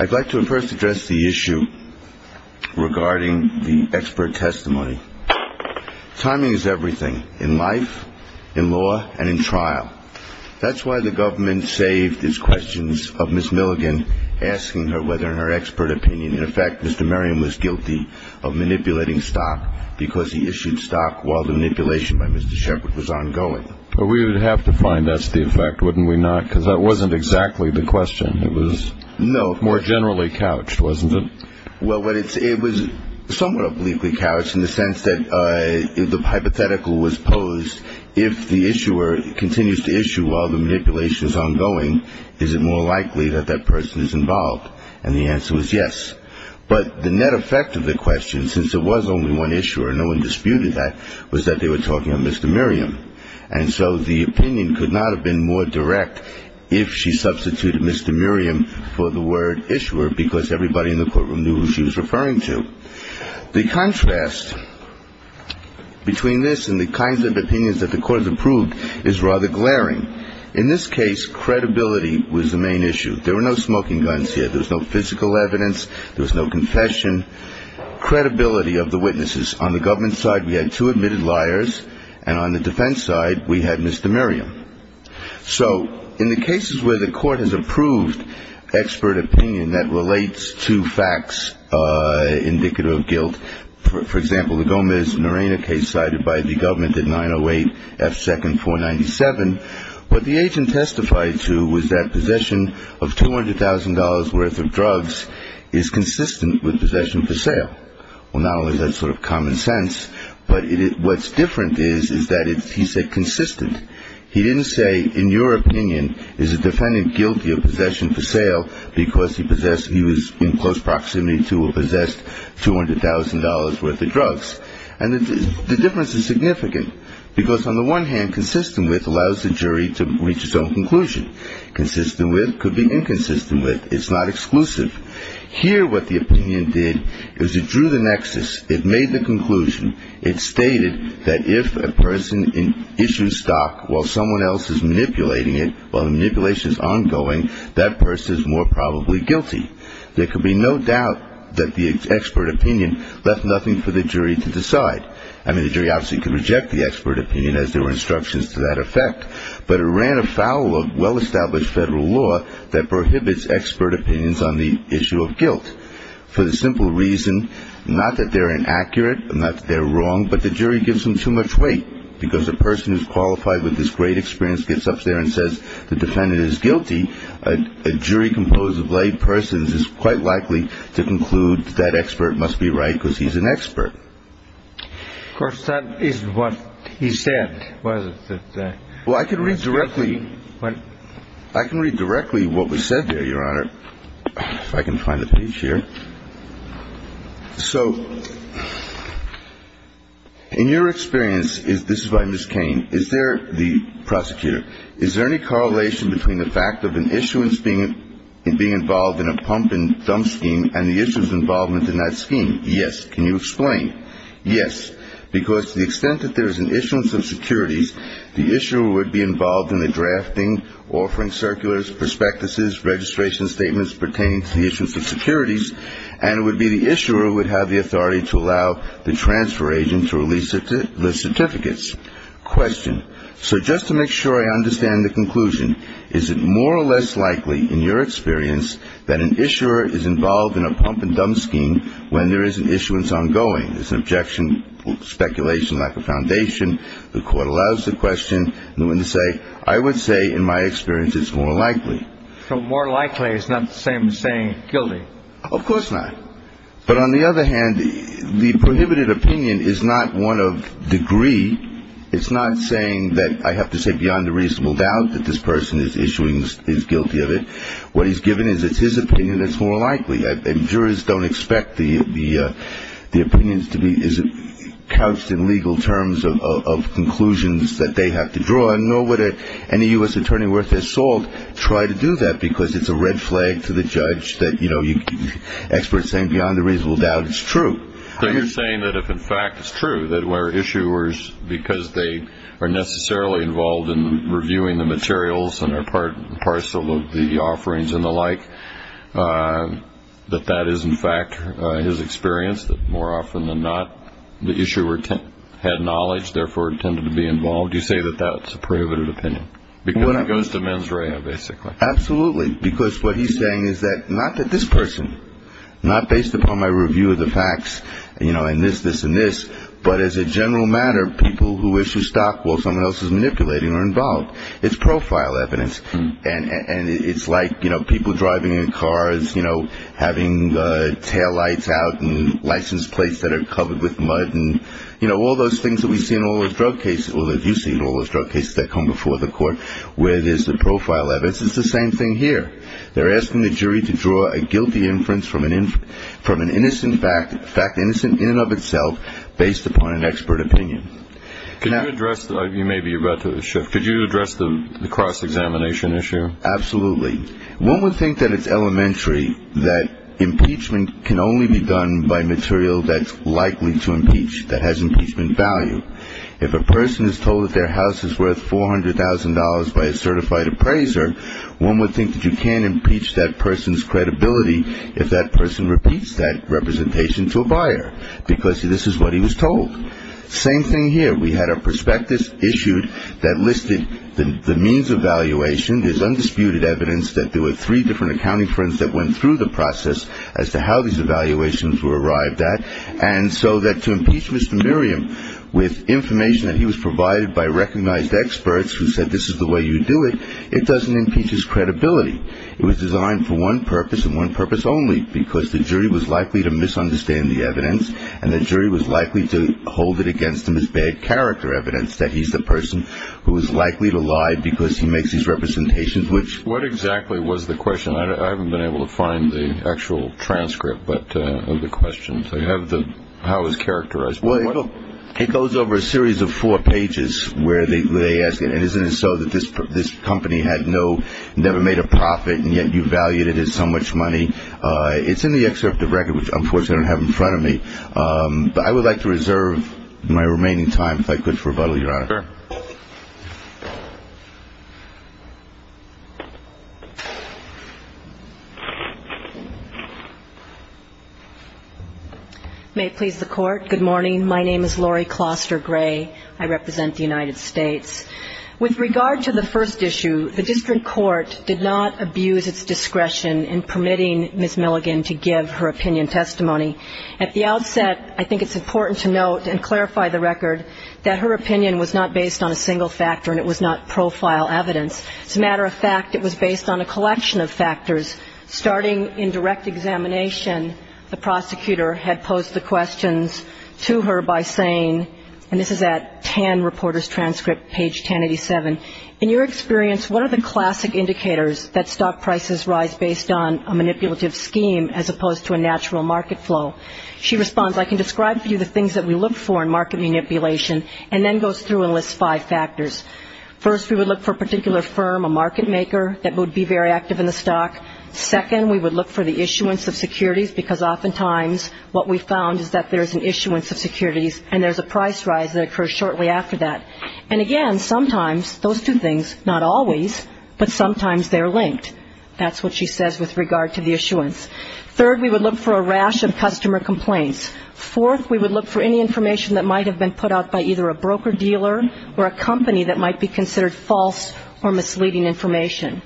I'd like to first address the issue regarding the expert testimony. Timing is everything, in life, in law, and in trial. That's why the government saved its questions of Ms. Milligan, asking her whether her expert opinion, in effect, was correct. Mr. Merriam was guilty of manipulating stock because he issued stock while the manipulation by Mr. Shepard was ongoing. We would have to find that's the effect, wouldn't we not? Because that wasn't exactly the question. It was more generally couched, wasn't it? Well, it was somewhat obliquely couched in the sense that the hypothetical was posed, if the issuer continues to issue while the manipulation is ongoing, is it more likely that that person is involved? And the answer was yes. But the net effect of the question, since there was only one issuer and no one disputed that, was that they were talking of Mr. Merriam. And so the opinion could not have been more direct if she substituted Mr. Merriam for the word issuer because everybody in the courtroom knew who she was referring to. The contrast between this and the kinds of opinions that the court has approved is rather glaring. In this case, credibility was the main issue. There were no smoking guns here. There was no physical evidence. There was no confession. Credibility of the witnesses. On the government side, we had two admitted liars. And on the defense side, we had Mr. Merriam. So in the cases where the court has approved expert opinion that relates to facts indicative of guilt, for example, the Gomez-Norena case cited by the government at 908 F. 2nd 497, what the agent testified to was that possession of $200,000 worth of drugs is consistent with possession for sale. Well, not only is that sort of common sense, but what's different is that he said consistent. He didn't say, in your opinion, is the defendant guilty of possession for sale because he was in close proximity to or possessed $200,000 worth of drugs. And the difference is significant because on the one hand, consistent with allows the jury to reach its own conclusion. Consistent with could be inconsistent with. It's not exclusive. Here, what the opinion did is it drew the nexus. It made the conclusion. It stated that if a person issues stock while someone else is manipulating it, while the manipulation is ongoing, that person is more probably guilty. There could be no doubt that the expert opinion left nothing for the jury to decide. I mean, the jury obviously could reject the expert opinion as there were instructions to that effect. But it ran afoul of well-established federal law that prohibits expert opinions on the issue of guilt for the simple reason, not that they're inaccurate, not that they're wrong, but the jury gives them too much weight because a person who's qualified with this great experience gets up there and says the defendant is guilty. A jury composed of lay persons is quite likely to conclude that expert must be right because he's an expert. Of course, that is what he said, wasn't it? Well, I can read directly. I can read directly what was said there, Your Honor. If I can find the page here. So in your experience, this is by Ms. Cain, is there, the prosecutor, is there any correlation between the fact of an issuance being involved in a pump and dump scheme and the issuance involvement in that scheme? Yes. Can you explain? Yes. Because to the extent that there is an issuance of securities, the issuer would be involved in the drafting, offering circulars, prospectuses, registration statements pertaining to the issuance of securities, and it would be the issuer who would have the authority to allow the transfer agent to release the certificates. Question. So just to make sure I understand the conclusion, is it more or less likely in your experience that an issuer is involved in a pump and dump scheme when there is an issuance ongoing? There's an objection, speculation, lack of foundation. The court allows the question. I would say in my experience it's more likely. So more likely is not the same as saying guilty? Of course not. But on the other hand, the prohibited opinion is not one of degree. It's not saying that I have to say beyond a reasonable doubt that this person is issuing, is guilty of it. What he's given is it's his opinion that's more likely. And jurors don't expect the opinions to be couched in legal terms of conclusions that they have to draw. So I know what any U.S. attorney worth their salt try to do that because it's a red flag to the judge that, you know, experts saying beyond a reasonable doubt it's true. So you're saying that if in fact it's true that where issuers, because they are necessarily involved in reviewing the materials and are part and parcel of the offerings and the like, that that is in fact his experience, that more often than not, the issuer had knowledge, therefore intended to be involved? You say that that's a prohibited opinion because it goes to mens rea, basically. Absolutely, because what he's saying is that not that this person, not based upon my review of the facts, you know, and this, this and this, but as a general matter, people who issue stock while someone else is manipulating are involved. It's profile evidence. And it's like, you know, people driving in cars, you know, having taillights out and license plates that are covered with mud and, you know, all those things that we see in all those drug cases or that you see in all those drug cases that come before the court where there's the profile evidence. It's the same thing here. They're asking the jury to draw a guilty inference from an innocent fact, fact innocent in and of itself based upon an expert opinion. Can I address that? Maybe you're about to shift. Could you address the cross-examination issue? Absolutely. One would think that it's elementary that impeachment can only be done by material that's likely to impeach, that has impeachment value. If a person is told that their house is worth $400,000 by a certified appraiser, one would think that you can't impeach that person's credibility if that person repeats that representation to a buyer because this is what he was told. Same thing here. We had a prospectus issued that listed the means of valuation. There's undisputed evidence that there were three different accounting firms that went through the process as to how these evaluations were arrived at. And so that to impeach Mr. Miriam with information that he was provided by recognized experts who said this is the way you do it, it doesn't impeach his credibility. It was designed for one purpose and one purpose only, because the jury was likely to misunderstand the evidence and the jury was likely to hold it against him as bad character evidence that he's the person who is likely to lie because he makes these representations which- What exactly was the question? I haven't been able to find the actual transcript of the questions. They have the how it's characterized. It goes over a series of four pages where they ask it. And isn't it so that this company had never made a profit and yet you valued it as so much money? It's in the excerpt of the record, which unfortunately I don't have in front of me. But I would like to reserve my remaining time if I could for rebuttal, Your Honor. Sure. May it please the Court. Good morning. My name is Lori Kloster Gray. I represent the United States. With regard to the first issue, the district court did not abuse its discretion in permitting Ms. Milligan to give her opinion testimony. At the outset, I think it's important to note and clarify the record that her opinion was not based on a single factor and it was not profile evidence. As a matter of fact, it was based on a collection of factors. Starting in direct examination, the prosecutor had posed the questions to her by saying, and this is at TAN reporter's transcript, page 1087. In your experience, what are the classic indicators that stock prices rise based on a manipulative scheme as opposed to a natural market flow? She responds, I can describe to you the things that we look for in market manipulation, and then goes through and lists five factors. First, we would look for a particular firm, a market maker that would be very active in the stock. Second, we would look for the issuance of securities, because oftentimes what we found is that there's an issuance of securities and there's a price rise that occurs shortly after that. And again, sometimes those two things, not always, but sometimes they're linked. That's what she says with regard to the issuance. Third, we would look for a rash of customer complaints. Fourth, we would look for any information that might have been put out by either a broker-dealer or a company that might be considered false or misleading information.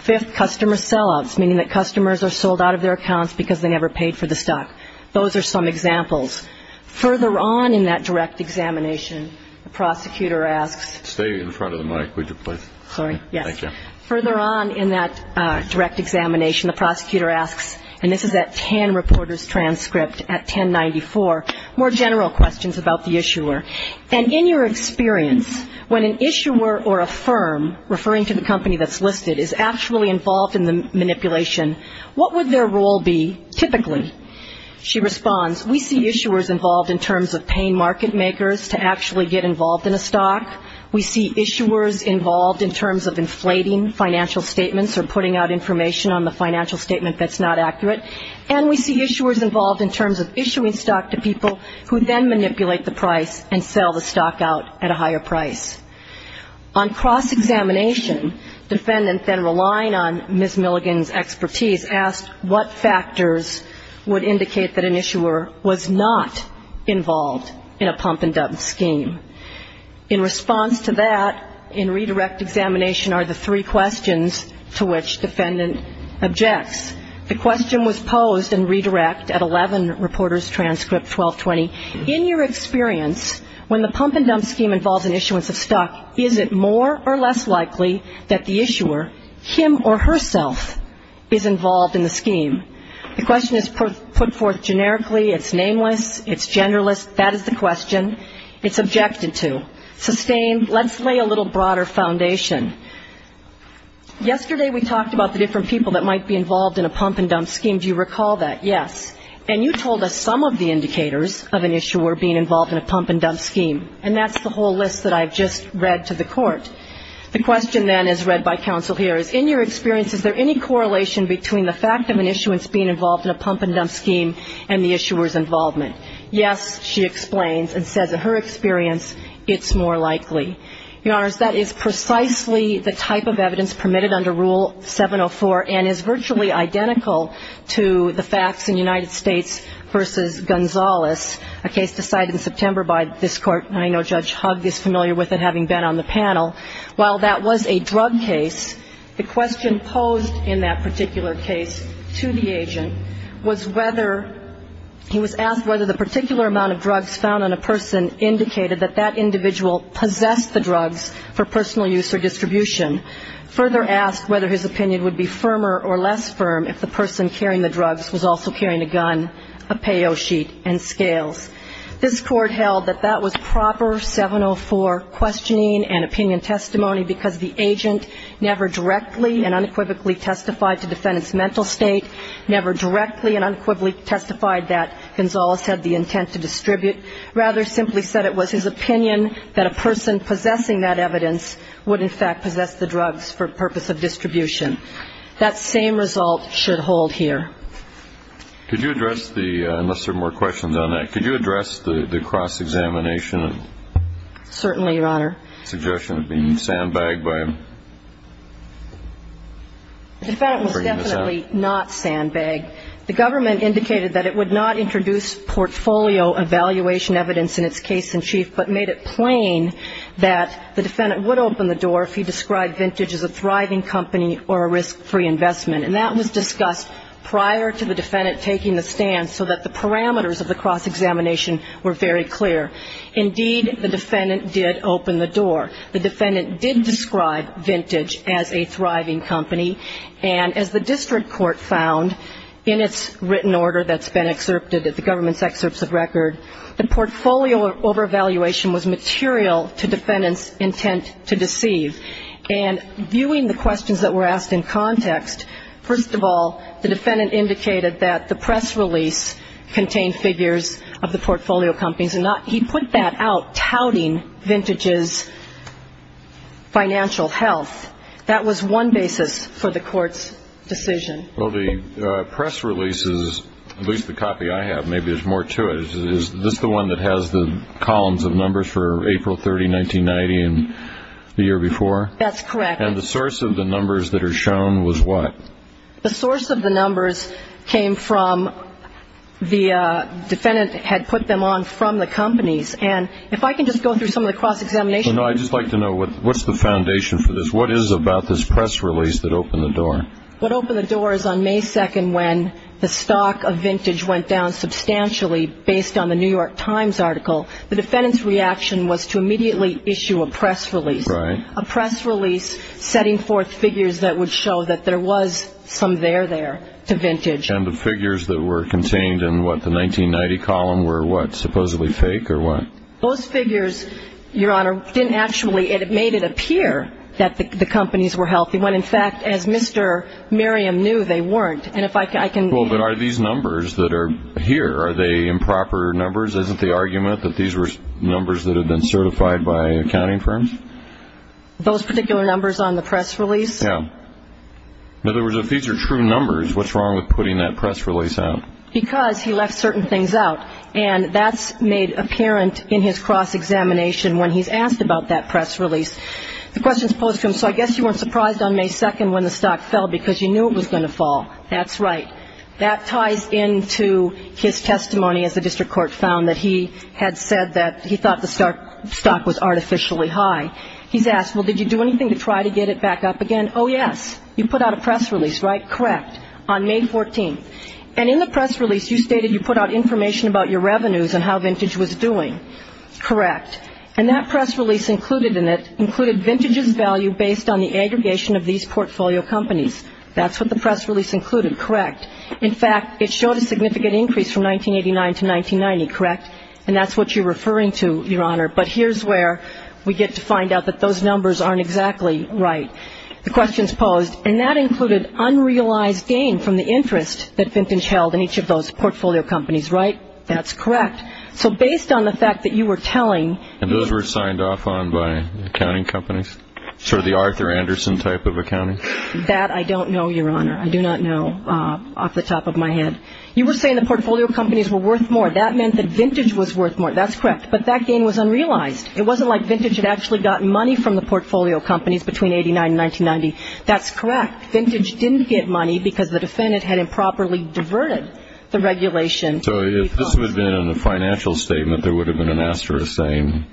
Fifth, customer sellouts, meaning that customers are sold out of their accounts because they never paid for the stock. Those are some examples. Further on in that direct examination, the prosecutor asks. Stay in front of the mic, would you, please. Sorry. Thank you. Further on in that direct examination, the prosecutor asks, and this is that TAN reporter's transcript at 1094, more general questions about the issuer. And in your experience, when an issuer or a firm, referring to the company that's listed, is actually involved in the manipulation, what would their role be typically? She responds, we see issuers involved in terms of paying market makers to actually get involved in a stock. We see issuers involved in terms of inflating financial statements or putting out information on the financial statement that's not accurate. And we see issuers involved in terms of issuing stock to people who then manipulate the price and sell the stock out at a higher price. On cross-examination, defendant then relying on Ms. Milligan's expertise, asked what factors would indicate that an issuer was not involved in a pump-and-dump scheme. In response to that, in redirect examination are the three questions to which defendant objects. The question was posed in redirect at 11, reporter's transcript 1220. In your experience, when the pump-and-dump scheme involves an issuance of stock, is it more or less likely that the issuer, him or herself, is involved in the scheme? The question is put forth generically. It's nameless. It's genderless. That is the question. It's objected to. Sustained, let's lay a little broader foundation. Yesterday we talked about the different people that might be involved in a pump-and-dump scheme. Do you recall that? Yes. And you told us some of the indicators of an issuer being involved in a pump-and-dump scheme. And that's the whole list that I've just read to the court. The question then, as read by counsel here, is in your experience, is there any correlation between the fact of an issuance being involved in a pump-and-dump scheme and the issuer's involvement? Yes, she explains, and says in her experience, it's more likely. Your Honors, that is precisely the type of evidence permitted under Rule 704 and is virtually identical to the facts in United States v. Gonzales, a case decided in September by this Court. And I know Judge Hugg is familiar with it, having been on the panel. While that was a drug case, the question posed in that particular case to the agent was whether he was asked whether the particular amount of drugs found on a person indicated that that individual possessed the drugs for personal use or distribution, further asked whether his opinion would be firmer or less firm if the person carrying the drugs was also carrying a gun, a payo sheet, and scales. This Court held that that was proper 704 questioning and opinion testimony because the agent never directly and unequivocally testified to defendant's mental state, never directly and unequivocally testified that Gonzales had the intent to distribute, rather simply said it was his opinion that a person possessing that evidence would in fact possess the drugs for purpose of distribution. That same result should hold here. Could you address the, unless there are more questions on that, could you address the cross-examination? Certainly, Your Honor. Suggestion of being sandbagged by him? The defendant was definitely not sandbagged. The government indicated that it would not introduce portfolio evaluation evidence in its case in chief, but made it plain that the defendant would open the door if he described Vintage as a thriving company or a risk-free investment. And that was discussed prior to the defendant taking the stand so that the parameters of the cross-examination were very clear. Indeed, the defendant did open the door. The defendant did describe Vintage as a thriving company, and as the district court found in its written order that's been excerpted at the government's excerpts of record, the portfolio over-evaluation was material to defendant's intent to deceive. And viewing the questions that were asked in context, first of all, the defendant indicated that the press release contained figures of the portfolio companies. He put that out touting Vintage's financial health. That was one basis for the court's decision. Well, the press releases, at least the copy I have, maybe there's more to it, is this the one that has the columns of numbers for April 30, 1990 and the year before? That's correct. And the source of the numbers that are shown was what? The source of the numbers came from the defendant had put them on from the companies. And if I can just go through some of the cross-examination. I'd just like to know what's the foundation for this. What is it about this press release that opened the door? What opened the door is on May 2 when the stock of Vintage went down substantially based on the New York Times article. Right. But there was some there there to Vintage. And the figures that were contained in what, the 1990 column, were what, supposedly fake or what? Those figures, Your Honor, didn't actually – it made it appear that the companies were healthy when, in fact, as Mr. Merriam knew, they weren't. And if I can – Well, but are these numbers that are here, are they improper numbers? Isn't the argument that these were numbers that had been certified by accounting firms? Those particular numbers on the press release? Yeah. In other words, if these are true numbers, what's wrong with putting that press release out? Because he left certain things out. And that's made apparent in his cross-examination when he's asked about that press release. The question is posed to him, so I guess you weren't surprised on May 2 when the stock fell because you knew it was going to fall. That's right. That ties into his testimony, as the district court found, that he had said that he thought the stock was artificially high. He's asked, well, did you do anything to try to get it back up again? Oh, yes. You put out a press release, right? Correct. On May 14. And in the press release, you stated you put out information about your revenues and how Vintage was doing. Correct. And that press release included in it, included Vintage's value based on the aggregation of these portfolio companies. That's what the press release included. Correct. In fact, it showed a significant increase from 1989 to 1990. Correct. And that's what you're referring to, Your Honor. But here's where we get to find out that those numbers aren't exactly right. The question is posed, and that included unrealized gain from the interest that Vintage held in each of those portfolio companies. Right? That's correct. So based on the fact that you were telling... And those were signed off on by accounting companies? Sort of the Arthur Anderson type of accounting? That I don't know, Your Honor. I do not know off the top of my head. You were saying the portfolio companies were worth more. That meant that Vintage was worth more. That's correct. But that gain was unrealized. It wasn't like Vintage had actually gotten money from the portfolio companies between 1989 and 1990. That's correct. Vintage didn't get money because the defendant had improperly diverted the regulation. So if this would have been a financial statement, there would have been an asterisk saying,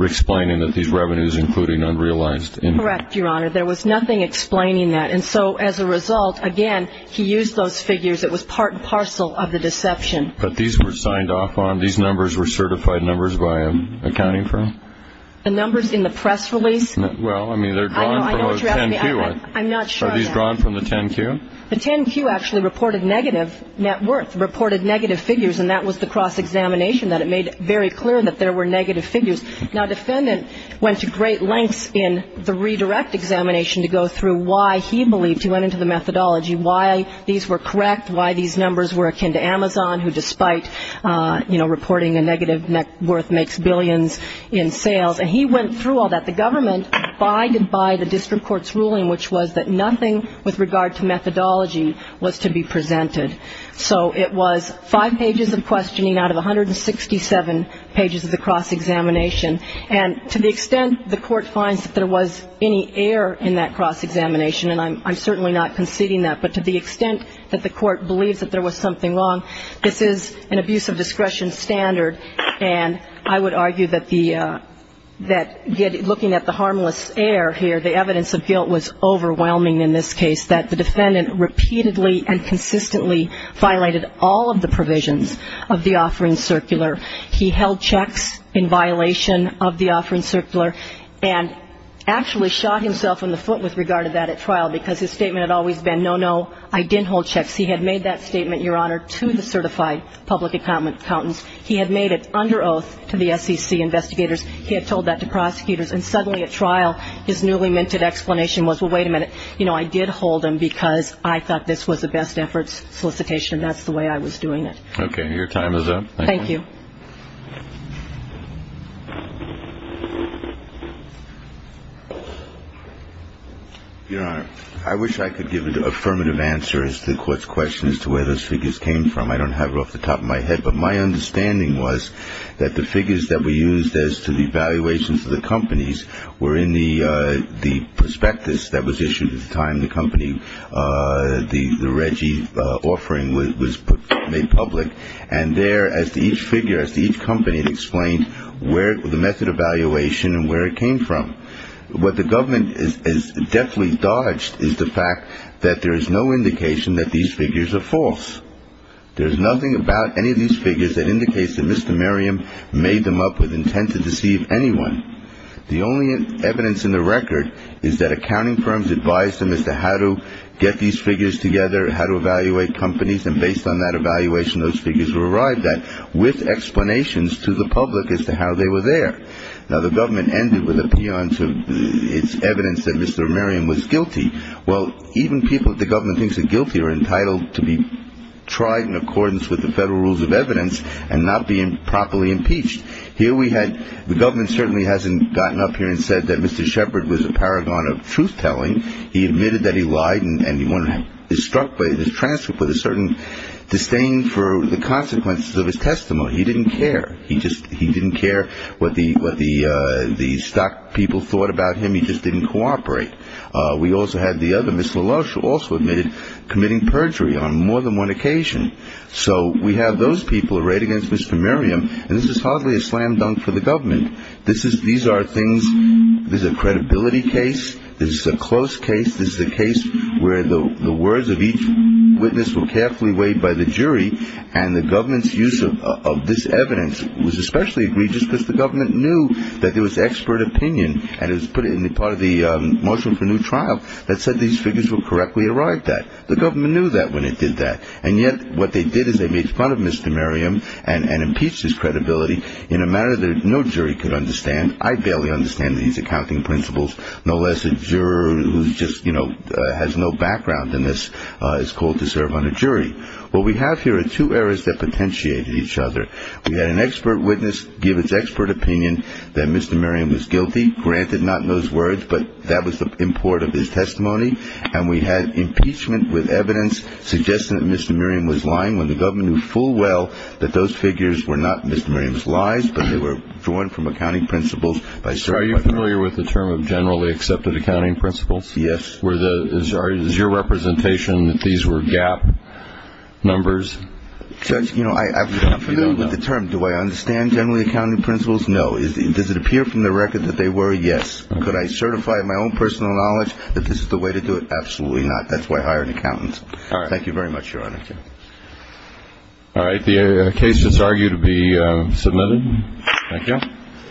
explaining that these revenues including unrealized... Correct, Your Honor. There was nothing explaining that. And so as a result, again, he used those figures. It was part and parcel of the deception. But these were signed off on? These numbers were certified numbers by an accounting firm? The numbers in the press release? Well, I mean, they're drawn from a 10-Q. I'm not sure. Are these drawn from the 10-Q? The 10-Q actually reported negative net worth, reported negative figures, and that was the cross-examination that it made very clear that there were negative figures. Now, the defendant went to great lengths in the redirect examination to go through why he believed he went into the methodology, why these were correct, why these numbers were akin to Amazon, who despite, you know, reporting a negative net worth makes billions in sales. And he went through all that. The government abided by the district court's ruling, which was that nothing with regard to methodology was to be presented. So it was five pages of questioning out of 167 pages of the cross-examination. And to the extent the court finds that there was any error in that cross-examination, and I'm certainly not conceding that, but to the extent that the court believes that there was something wrong, this is an abuse of discretion standard. And I would argue that looking at the harmless air here, the evidence of guilt was overwhelming in this case, that the defendant repeatedly and consistently violated all of the provisions of the Offering Circular. He held checks in violation of the Offering Circular and actually shot himself in the foot with regard to that at trial because his statement had always been, no, no, I didn't hold checks. He had made that statement, Your Honor, to the certified public accountants. He had made it under oath to the SEC investigators. He had told that to prosecutors. And suddenly at trial his newly minted explanation was, well, wait a minute, you know, I did hold them because I thought this was a best efforts solicitation and that's the way I was doing it. Okay. Your time is up. Thank you. Your Honor, I wish I could give an affirmative answer as to the court's question as to where those figures came from. I don't have it off the top of my head. But my understanding was that the figures that were used as to the evaluations of the companies were in the prospectus that was issued at the time the company, the Reggie offering was made public. And there, as to each figure, as to each company, it explained where the method of evaluation and where it came from. What the government has deftly dodged is the fact that there is no indication that these figures are false. There is nothing about any of these figures that indicates that Mr. Merriam made them up with intent to deceive anyone. The only evidence in the record is that accounting firms advised them as to how to get these figures together, how to evaluate companies, and based on that evaluation, those figures were arrived at with explanations to the public as to how they were there. Now, the government ended with a peon to its evidence that Mr. Merriam was guilty. Well, even people that the government thinks are guilty are entitled to be tried in accordance with the federal rules of evidence and not be properly impeached. Here we had the government certainly hasn't gotten up here and said that Mr. Shepard was a paragon of truth-telling. He admitted that he lied and was struck by this transcript with a certain disdain for the consequences of his testimony. He didn't care. He just didn't care what the stock people thought about him. He just didn't cooperate. We also had the other, Ms. LaLoche, who also admitted committing perjury on more than one occasion. So we have those people arrayed against Mr. Merriam, and this is hardly a slam-dunk for the government. These are things, this is a credibility case. This is a close case. This is a case where the words of each witness were carefully weighed by the jury, and the government's use of this evidence was especially egregious because the government knew that there was expert opinion, and it was put in part of the motion for new trial that said these figures were correctly arrived at. The government knew that when it did that, and yet what they did is they made fun of Mr. Merriam and impeached his credibility in a manner that no jury could understand. I barely understand these accounting principles, no less a juror who just, you know, has no background in this is called to serve on a jury. What we have here are two areas that potentiated each other. We had an expert witness give its expert opinion that Mr. Merriam was guilty, granted not in those words, but that was the import of his testimony, and we had impeachment with evidence suggesting that Mr. Merriam was lying. When the government knew full well that those figures were not Mr. Merriam's lies, but they were drawn from accounting principles. So are you familiar with the term of generally accepted accounting principles? Yes. Is your representation that these were gap numbers? You know, I'm familiar with the term. Do I understand generally accounting principles? No. Does it appear from the record that they were? Yes. Could I certify in my own personal knowledge that this is the way to do it? Absolutely not. That's why I hired an accountant. All right. Thank you very much, Your Honor. Thank you. All right. The case is argued to be submitted. Thank you.